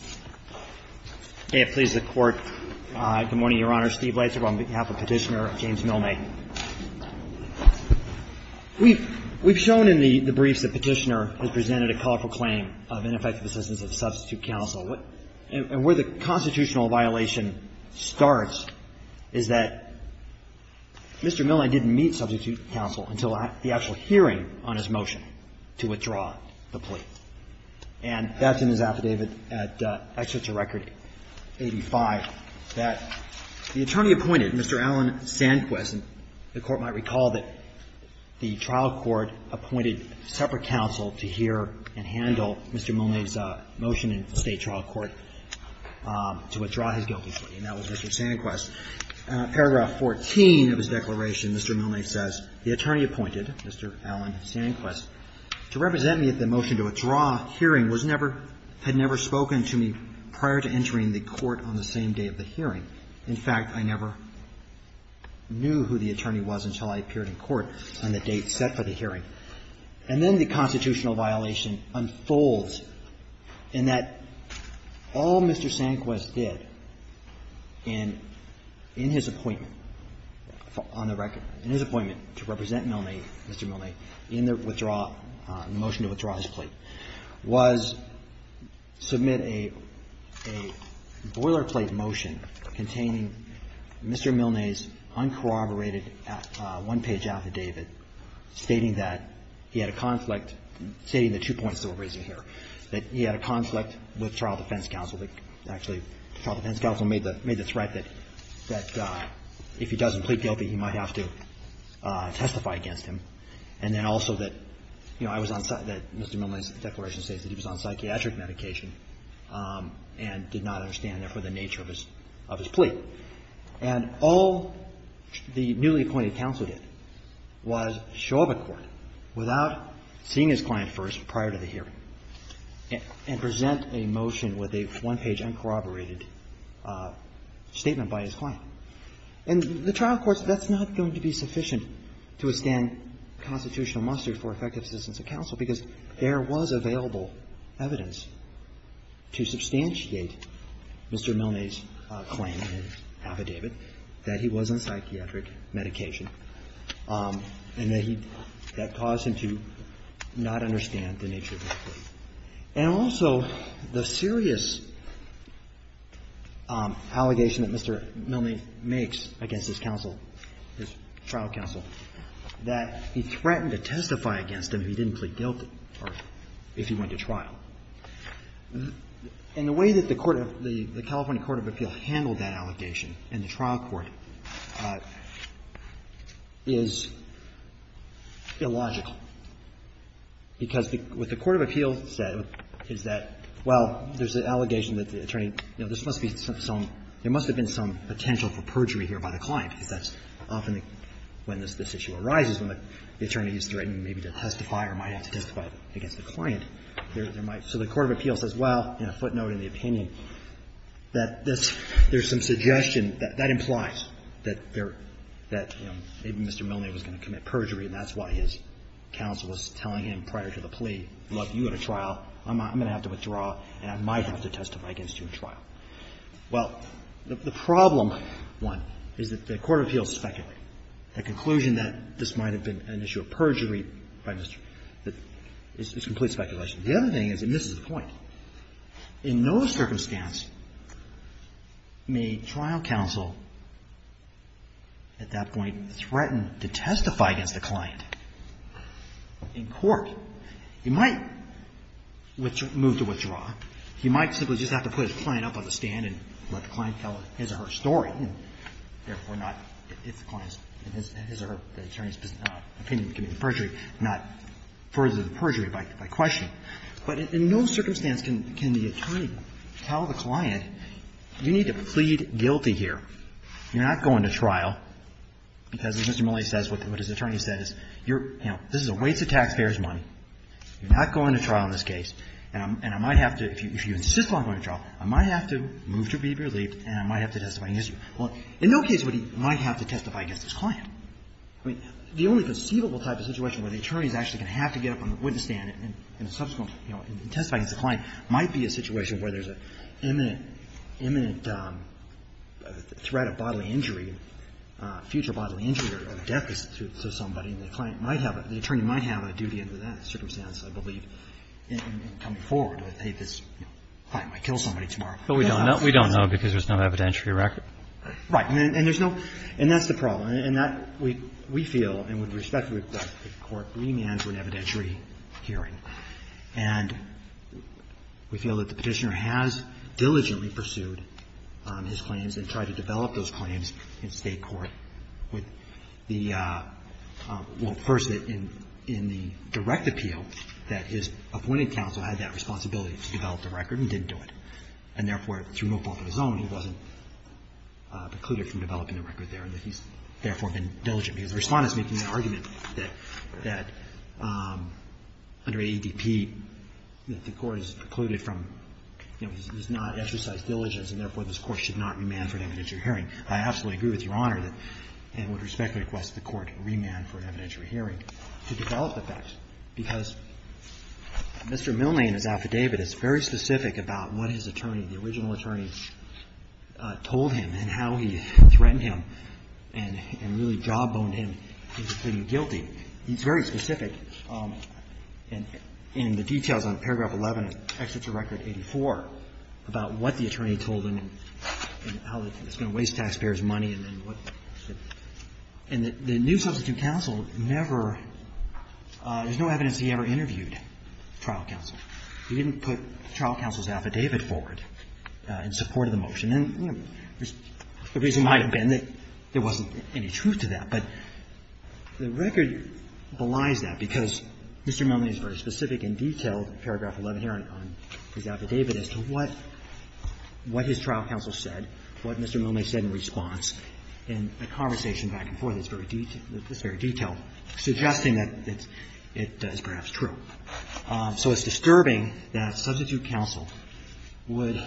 on behalf of Petitioner, James Milne. We've shown in the briefs that Petitioner has presented a colorful claim of ineffective assistance of substitute counsel, and where the constitutional violation starts is that Mr. Milne didn't meet substitute counsel until the actual hearing on his motion to withdraw the plea. And that's in his affidavit at the Supreme Court. I wanted to show you this excerpt from the record, excerpt from record 85, that the attorney appointed Mr. Alan Sanquez, and the Court might recall that the trial court appointed separate counsel to hear and handle Mr. Milne's motion in State trial court to withdraw his guilty plea and that was Mr. Sanquez. Paragraph 14 of his declaration, Mr. Milne says, the attorney appointed Mr. Alan Sanquez to represent me at the motion to withdraw hearing was never, had never spoken to me prior to entering the court on the same day of the hearing. In fact, I never knew who the attorney was until I appeared in court on the date set for the hearing. And then the constitutional violation unfolds in that all Mr. Sanquez did in, in his appointment on the record, in his appointment to represent Milne, Mr. Milne, in the withdrawal, motion to withdraw his plea, was submit a boilerplate motion containing Mr. Milne's uncorroborated one-page affidavit stating that Mr. Sanquez had not spoken to me prior to entering the court on the same day of the hearing. And that he had a conflict, stating the two points that we're raising here, that he had a conflict with trial defense counsel, that actually trial defense counsel made the, made the threat that, that if he doesn't plead guilty, he might have to testify against him. And then also that, you know, I was on, that Mr. Milne's declaration states that he was on psychiatric medication and did not understand, therefore, the nature of his, of his plea. And all the newly appointed counsel did was show up at court without seeing his client first prior to the hearing and present a motion with a one-page uncorroborated statement by his client. And the trial courts, that's not going to be sufficient to withstand constitutional muster for effective assistance of counsel, because there was available evidence to substantiate Mr. Milne's claim in his affidavit that he was on psychiatric medication and that he, that caused him to not understand the nature of his plea. And also, the serious allegation that Mr. Milne makes against his counsel, his trial counsel, that he threatened to testify against him if he didn't plead guilty or if he went to trial. And the way that the court of, the California Court of Appeal handled that allegation in the trial court is illogical. Because what the court of appeal said is that, well, there's an allegation that the attorney, you know, there must be some, there must have been some potential for perjury here by the client, because that's often when this, this issue arises, when the attorney is threatening maybe to testify or might have to testify against the client, there might be. So the court of appeal says, well, in a footnote in the opinion, that this, there's some suggestion that that implies that there, that, you know, maybe Mr. Milne was going to commit perjury and that's why his counsel was telling him prior to the plea, look, you go to trial, I'm, I'm going to have to withdraw and I might have to testify against you in trial. Well, the, the problem, one, is that the court of appeals speculate. The conclusion that this might have been an issue of perjury by Mr., that, is, is complete speculation. The other thing is, and this is the point, in no circumstance may trial counsel at that point threaten to testify against the client in court. He might withdraw, move to withdraw. He might simply just have to put his client up on the stand and let the client tell his or her story, and therefore not, if the client's, his or her, the attorney's opinion can be perjury, not further than perjury by, by questioning. But in no circumstance can, can the attorney tell the client, you need to plead guilty here. You're not going to trial because, as Mr. Mollay says, what his attorney says, you're, you know, this is a waste of taxpayers' money. You're not going to trial in this case, and I'm, and I might have to, if you, if you insist on going to trial, I might have to move to be relieved and I might have to testify against you. Well, in no case would he, might have to testify against his client. I mean, the only conceivable type of situation where the attorney is actually going to have to get up on the witness stand and, and subsequently, you know, testify against the client might be a situation where there's an imminent, imminent threat of bodily injury, future bodily injury or death to somebody, and the client might have, the attorney might have a duty under that circumstance, I believe, in coming forward with, hey, this client might kill somebody tomorrow. But we don't know. We don't know because there's no evidentiary record. Right. And there's no, and that's the problem. And that, we, we feel, and with respect to the court, remands an evidentiary hearing. And we feel that the Petitioner has diligently pursued his claims and tried to develop those claims in State court with the, well, first, in, in the direct appeal that his appointed counsel had that responsibility to develop the record and didn't do it. And therefore, through no fault of his own, he wasn't precluded from developing the record there, and that he's therefore been diligent. Because the Respondent's making the argument that, that under AEDP, that the court is precluded from, you know, he's not exercised diligence, and therefore, this Court should not remand for an evidentiary hearing. I absolutely agree with Your Honor that, and would respectfully request the Court remand for an evidentiary hearing to develop the facts, because Mr. Milne, in his affidavit, is very specific about what his attorney, the original attorney, told him, and how he threatened him, and, and really jawboned him into pleading guilty. He's very specific in, in the details on paragraph 11 of Exeter Record 84 about what the attorney told him, and how it's going to waste taxpayers' money, and then what the, and the, the new substitute counsel never, there's no evidence that he ever interviewed trial counsel. He didn't put trial counsel's affidavit forward in support of the motion. And, you know, the reason might have been that there wasn't any truth to that. But the record belies that, because Mr. Milne is very specific and detailed in paragraph 11 here on, on his affidavit as to what, what his trial counsel said, what Mr. Milne said in response in a conversation back and forth that's very detailed, that's very detailed, suggesting that it's, it is perhaps true. So it's disturbing that substitute counsel would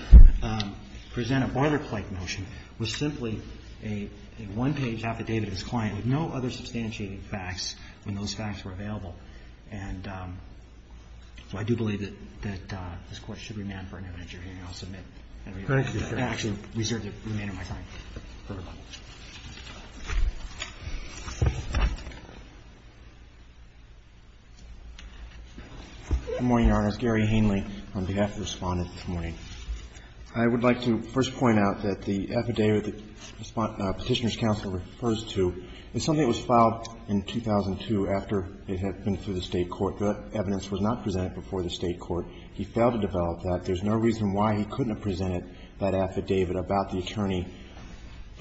present a Barler-Clark motion with simply a, a one-page affidavit of his client with no other substantiating facts when those facts were available. And so I do believe that, that this Court should remand for an interview. And I'll submit and reserve the remainder of my time. Thank you. Good morning, Your Honors. Gary Hanley on behalf of the Respondents. Good morning. I would like to first point out that the affidavit the Petitioner's counsel refers to is something that was filed in 2002 after it had been through the State Court. That evidence was not presented before the State Court. He failed to develop that. There's no reason why he couldn't have presented that affidavit about the attorney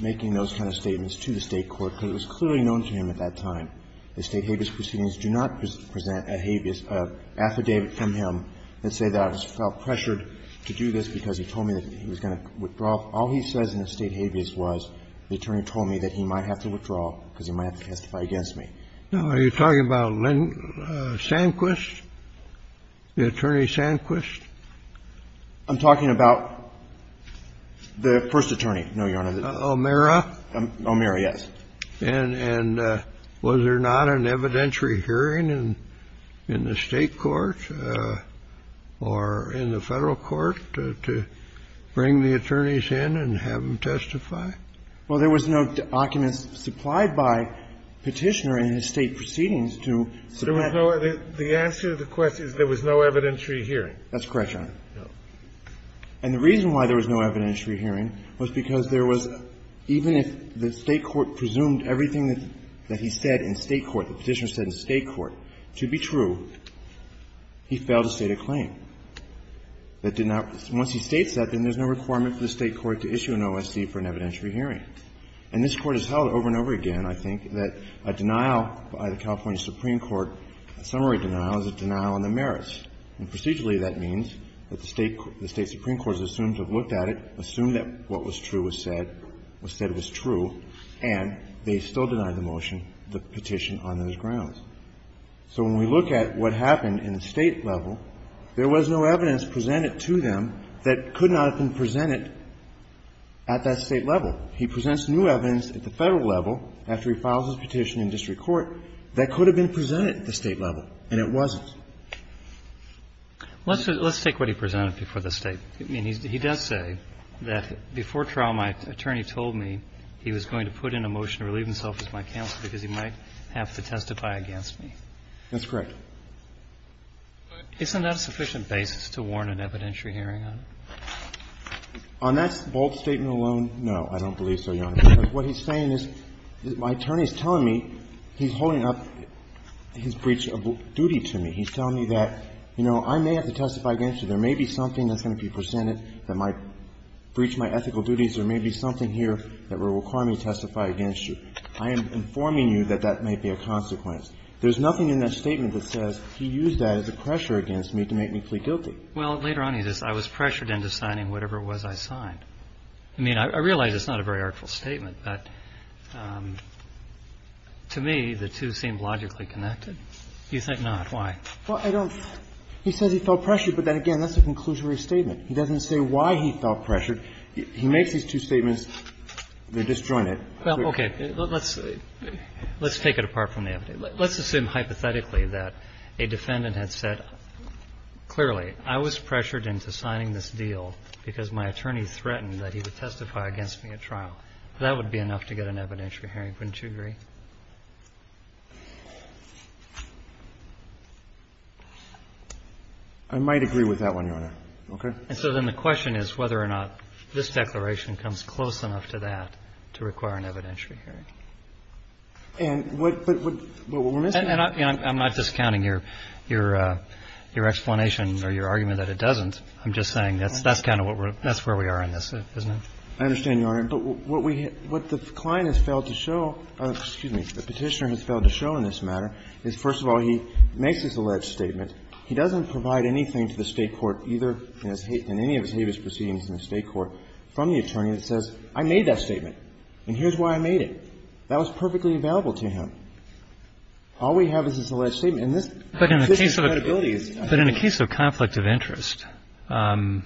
making those kind of statements to the State Court, because it was clearly known to him at that time. The State habeas proceedings do not present a habeas affidavit from him that say that I felt pressured to do this because he told me that he was going to withdraw. All he says in the State habeas was the attorney told me that he might have to withdraw because he might have to testify against me. Now, are you talking about Lynn Sanquist, the attorney Sanquist? I'm talking about the first attorney. No, Your Honor. O'Meara? O'Meara, yes. And was there not an evidentiary hearing in the State court or in the Federal court to bring the attorneys in and have them testify? Well, there was no documents supplied by Petitioner in his State proceedings to submit. There was no other – the answer to the question is there was no evidentiary hearing. That's correct, Your Honor. And the reason why there was no evidentiary hearing was because there was, even if the State court presumed everything that he said in State court, the Petitioner said in State court, to be true, he failed to state a claim. That did not – once he states that, then there's no requirement for the State court to issue an OSC for an evidentiary hearing. And this Court has held over and over again, I think, that a denial by the California Supreme Court, a summary denial, is a denial on the merits. And procedurally, that means that the State – the State Supreme Court has assumed to have looked at it, assumed that what was true was said – was said was true, and they still denied the motion, the petition, on those grounds. So when we look at what happened in the State level, there was no evidence presented to them that could not have been presented at that State level. He presents new evidence at the Federal level, after he files his petition in district court, that could have been presented at the State level, and it wasn't. Let's take what he presented before the State. I mean, he does say that before trial, my attorney told me he was going to put in a motion to relieve himself as my counsel because he might have to testify against me. That's correct. Isn't that a sufficient basis to warn an evidentiary hearing on? On that bold statement alone, no, I don't believe so, Your Honor, because what he's saying is my attorney is telling me he's holding up his breach of duty to me. He's telling me that, you know, I may have to testify against you. There may be something that's going to be presented that might breach my ethical duties. There may be something here that will require me to testify against you. I am informing you that that may be a consequence. There's nothing in that statement that says he used that as a pressure against me to make me plead guilty. Well, later on he says, I was pressured into signing whatever it was I signed. I mean, I realize it's not a very artful statement, but to me, the two seem logically connected. You think not. Why? Well, I don't think he says he felt pressured, but then again, that's a conclusory statement. He doesn't say why he felt pressured. He makes these two statements. They're disjointed. Well, okay. Let's take it apart from the other. Let's assume hypothetically that a defendant had said clearly, I was pressured into signing this deal because my attorney threatened that he would testify against me at trial. That would be enough to get an evidentiary hearing, wouldn't you agree? I might agree with that one, Your Honor. Okay. And so then the question is whether or not this declaration comes close enough to that to require an evidentiary hearing. And what we're missing here is the fact that the client has failed to show, excuse me, the Petitioner has failed to show in this matter is, first of all, he makes this alleged statement. He doesn't provide anything to the State court either in any of his habeas proceedings in the State court from the attorney that says, I made that statement, and here's why I made it. That was perfectly available to him. All we have is this alleged statement. And this credibility is not there. But in a case of conflict of interest, that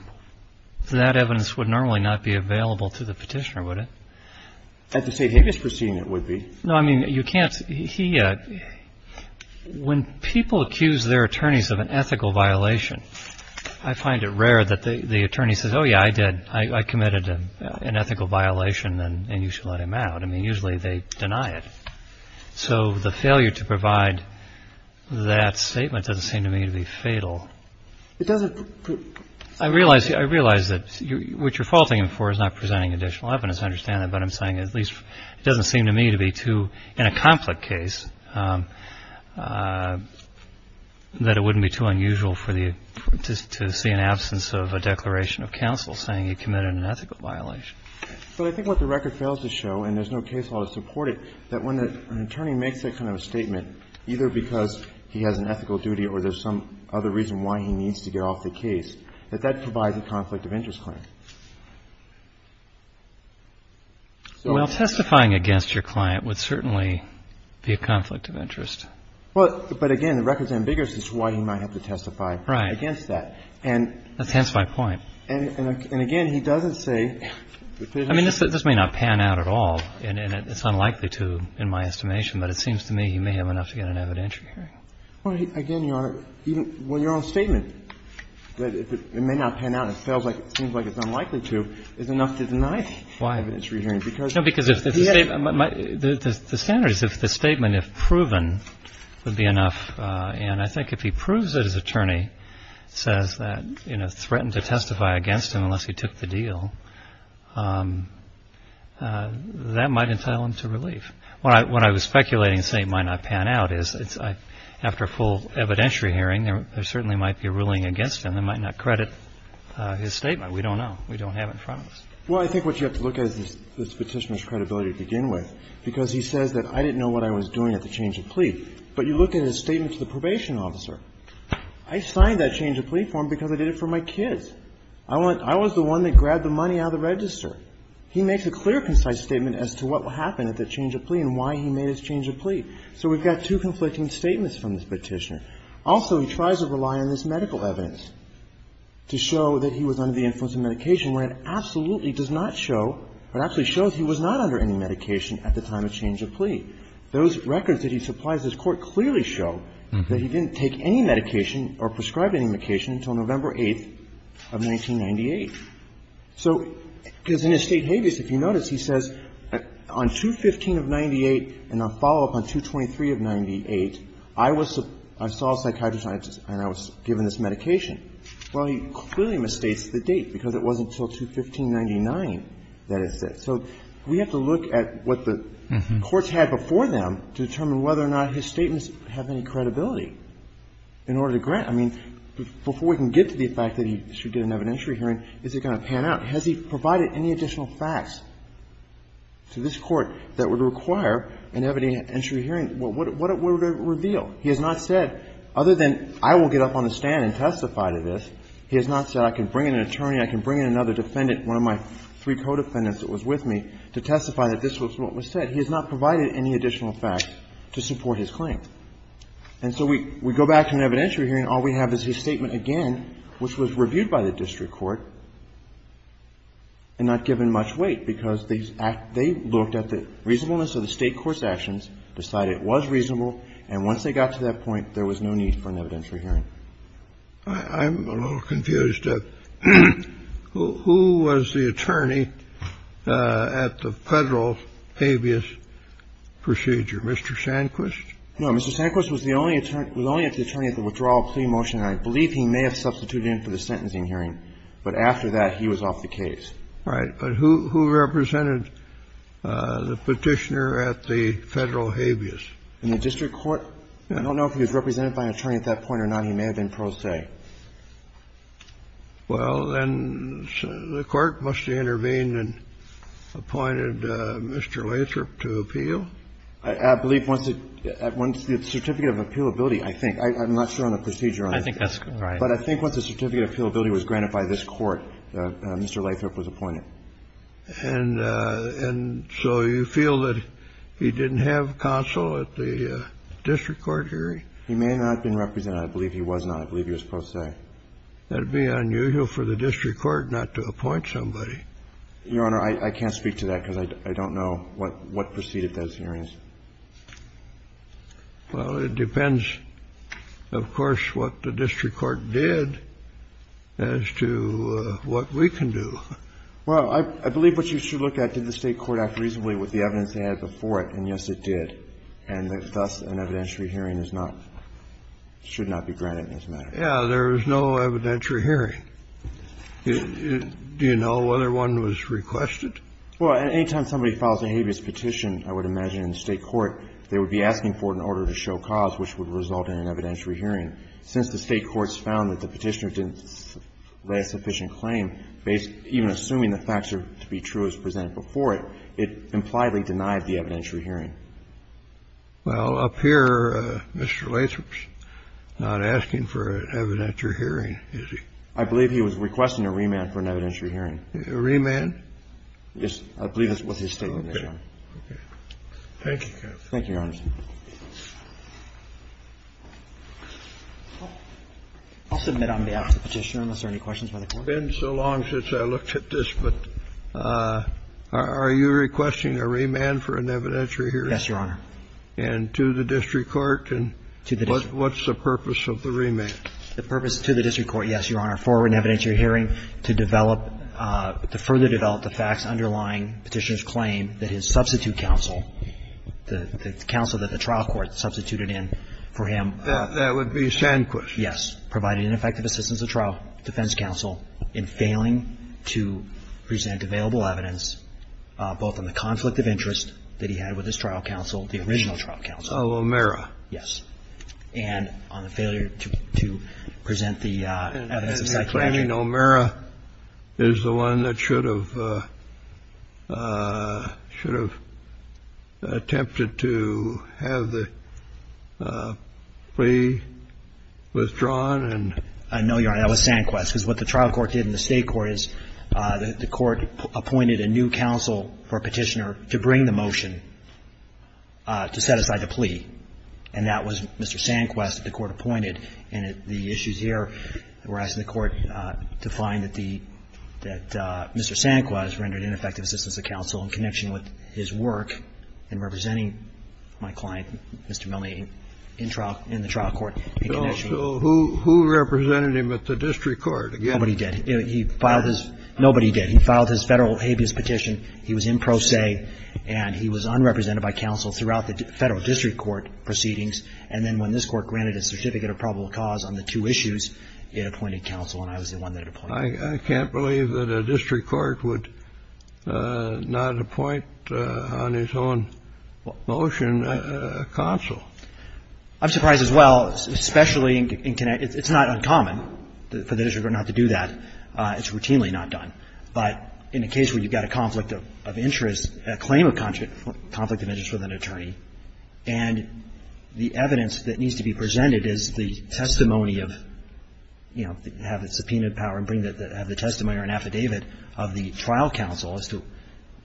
evidence would normally not be available to the Petitioner, would it? At the State habeas proceeding, it would be. No, I mean, you can't he when people accuse their attorneys of an ethical violation, I find it rare that the attorney says, oh, yeah, I did. I committed an ethical violation, and you should let him out. I mean, usually they deny it. So the failure to provide that statement doesn't seem to me to be fatal. I realize that what you're faulting him for is not presenting additional evidence. I understand that, but I'm saying at least it doesn't seem to me to be too, in a conflict case, that it wouldn't be too unusual for the attorney to see an absence of a declaration of counsel saying he committed an ethical violation. But I think what the record fails to show, and there's no case law to support it, that when an attorney makes that kind of a statement, either because he has an ethical duty or there's some other reason why he needs to get off the case, that that provides a conflict of interest claim. Well, testifying against your client would certainly be a conflict of interest. Well, but again, the record's ambiguous as to why he might have to testify against that. Right. That's hence my point. And again, he doesn't say that there's a conflict of interest claim. I mean, this may not pan out at all, and it's unlikely to, in my estimation. But it seems to me he may have enough to get an evidentiary hearing. Well, again, Your Honor, even when you're on a statement, it may not pan out. It seems like it's unlikely to. It's enough to deny the evidentiary hearing, because the evidence is there. No, because the standard is if the statement, if proven, would be enough. And I think if he proves that his attorney says that, you know, threatened to testify against him unless he took the deal, that might entail him to relief. What I was speculating, saying it might not pan out, is after a full evidentiary hearing, there certainly might be a ruling against him that might not credit his statement. We don't know. We don't have it in front of us. Well, I think what you have to look at is the Petitioner's credibility to begin with, because he says that I didn't know what I was doing at the change of plea. But you look at his statement to the probation officer. I signed that change of plea form because I did it for my kids. I was the one that grabbed the money out of the register. He makes a clear, concise statement as to what happened at the change of plea and why he made his change of plea. So we've got two conflicting statements from this Petitioner. Also, he tries to rely on this medical evidence to show that he was under the influence of medication, when it absolutely does not show, or actually shows he was not under any medication at the time of change of plea. Those records that he supplies this Court clearly show that he didn't take any medication or prescribe any medication until November 8th of 1998. So because in his State Habeas, if you notice, he says on 2-15 of 98 and a follow-up on 2-23 of 98, I was the – I saw a psychiatrist and I was given this medication. Well, he clearly mistakes the date because it wasn't until 2-15-99 that it said. So we have to look at what the courts had before them to determine whether or not his statements have any credibility in order to grant. I mean, before we can get to the fact that he should get an evidentiary hearing, is it going to pan out? Has he provided any additional facts to this Court that would require an evidentiary hearing? What would it reveal? He has not said, other than I will get up on the stand and testify to this, he has not said I can bring in an attorney, I can bring in another defendant, one of my three co-defendants that was with me, to testify that this was what was said. He has not provided any additional facts to support his claim. And so we go back to an evidentiary hearing. All we have is his statement again, which was reviewed by the district court and not given much weight because they looked at the reasonableness of the State court's actions, decided it was reasonable, and once they got to that point, there was no need for an evidentiary hearing. I'm a little confused. Who was the attorney at the Federal habeas procedure, Mr. Sanquist? No, Mr. Sanquist was the only attorney at the withdrawal plea motion. I believe he may have substituted in for the sentencing hearing, but after that, he was off the case. Right. But who represented the Petitioner at the Federal habeas? In the district court? I don't know if he was represented by an attorney at that point or not. He may have been pro se. Well, then the court must have intervened and appointed Mr. Lathrop to appeal. I believe once the certificate of appealability, I think. I'm not sure on the procedure on it. I think that's right. But I think once the certificate of appealability was granted by this court, Mr. Lathrop was appointed. And so you feel that he didn't have counsel at the district court hearing? He may not have been represented. I believe he was not. I believe he was pro se. That would be unusual for the district court not to appoint somebody. Your Honor, I can't speak to that because I don't know what preceded those hearings. Well, it depends, of course, what the district court did as to what we can do. Well, I believe what you should look at, did the State court act reasonably with the evidence they had before it? And, yes, it did. And thus, an evidentiary hearing is not – should not be granted in this matter. Yeah, there was no evidentiary hearing. Do you know whether one was requested? Well, any time somebody files a habeas petition, I would imagine in the State court they would be asking for it in order to show cause, which would result in an evidentiary hearing. And since the State courts found that the Petitioner didn't lay a sufficient claim, even assuming the facts are to be true as presented before it, it impliedly denied the evidentiary hearing. Well, up here, Mr. Lathrop's not asking for an evidentiary hearing, is he? I believe he was requesting a remand for an evidentiary hearing. A remand? Yes. I believe that was his statement, Your Honor. Okay. Thank you, counsel. Thank you, Your Honor. I'll submit on behalf of the Petitioner, unless there are any questions by the Court. It's been so long since I looked at this, but are you requesting a remand for an evidentiary hearing? Yes, Your Honor. And to the district court? To the district. What's the purpose of the remand? The purpose to the district court, yes, Your Honor, for an evidentiary hearing to develop – to further develop the facts underlying Petitioner's claim that his trial counsel, that the trial court substituted in for him. That would be Sanquist? Yes. Providing an effective assistance to the trial defense counsel in failing to present available evidence, both on the conflict of interest that he had with his trial counsel, the original trial counsel. O'Meara. Yes. And on the failure to present the evidence of psychiatric. And O'Meara is the one that should have – should have attempted to have the plea withdrawn? No, Your Honor, that was Sanquist, because what the trial court did in the state court is the court appointed a new counsel for Petitioner to bring the motion to set aside the plea, and that was Mr. Sanquist that the court appointed. And the issues here, we're asking the court to find that the – that Mr. Sanquist rendered ineffective assistance to counsel in connection with his work in representing my client, Mr. Milne, in trial – in the trial court in connection with his work. So who represented him at the district court? Nobody did. He filed his – nobody did. He filed his Federal habeas petition. He was in pro se, and he was unrepresented by counsel throughout the Federal district court proceedings. And then when this court granted a certificate of probable cause on the two issues, it appointed counsel, and I was the one that it appointed. I can't believe that a district court would not appoint on its own motion a counsel. I'm surprised as well, especially in – it's not uncommon for the district court not to do that. It's routinely not done. But in a case where you've got a conflict of interest, a claim of conflict of interest with an attorney, and the evidence that needs to be presented is the testimony of, you know, have the subpoena power and bring the – have the testimony or an affidavit of the trial counsel as to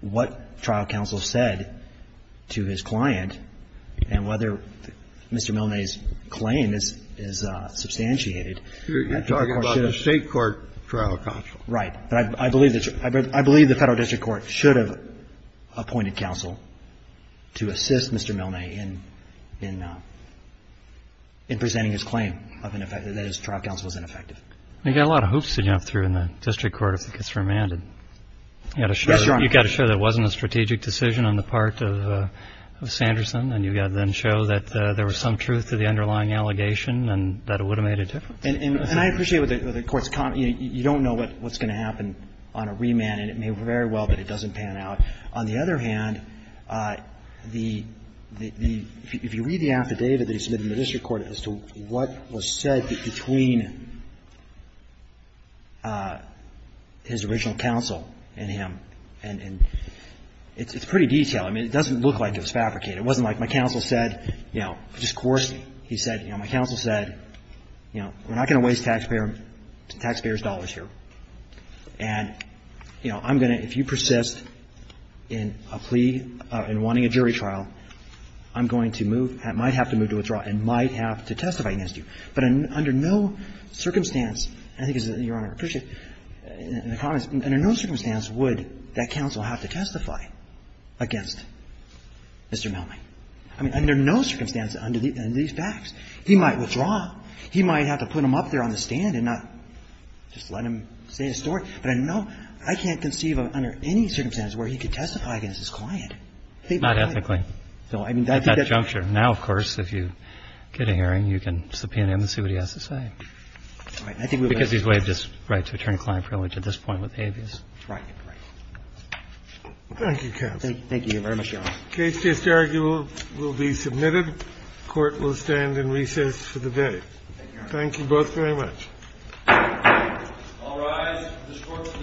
what trial counsel said to his client, and whether Mr. Milne's claim is – is substantiated. You're talking about the state court trial counsel. Right. But I believe that – I believe the Federal district court should have appointed counsel to assist Mr. Milne in – in presenting his claim of an – that his trial counsel was ineffective. You've got a lot of hoops to jump through in the district court if it gets remanded. You've got to show that it wasn't a strategic decision on the part of Sanderson, and you've got to then show that there was some truth to the underlying allegation and that it would have made a difference. And I appreciate what the Court's comment. You don't know what's going to happen on a remand, and it may very well, but it doesn't pan out. On the other hand, the – if you read the affidavit that he submitted in the district court as to what was said between his original counsel and him, and it's pretty detailed. I mean, it doesn't look like it was fabricated. It wasn't like my counsel said, you know, just coerced me. He said, you know, my counsel said, you know, we're not going to waste taxpayers' dollars here. And, you know, I'm going to – if you persist in a plea – in wanting a jury trial, I'm going to move – might have to move to withdraw and might have to testify against you. But under no circumstance – I think it's – Your Honor, I appreciate the comments. Under no circumstance would that counsel have to testify against Mr. Milne. I mean, under no circumstance under these facts. He might withdraw. He might have to put him up there on the stand and not just let him say his story. But I know – I can't conceive under any circumstance where he could testify against his client. They would have to do it. Roberts, I mean, that's the juncture. Now, of course, if you get a hearing, you can subpoena him and see what he has to say. All right. I think we would have to do that. Because he's waived his right to attorney-client privilege at this point with habeas. Right. Thank you, counsel. Thank you very much, Your Honor. Case just argued will be submitted. Court will stand in recess for the day. Thank you both very much. All rise. This court's recess is adjourned.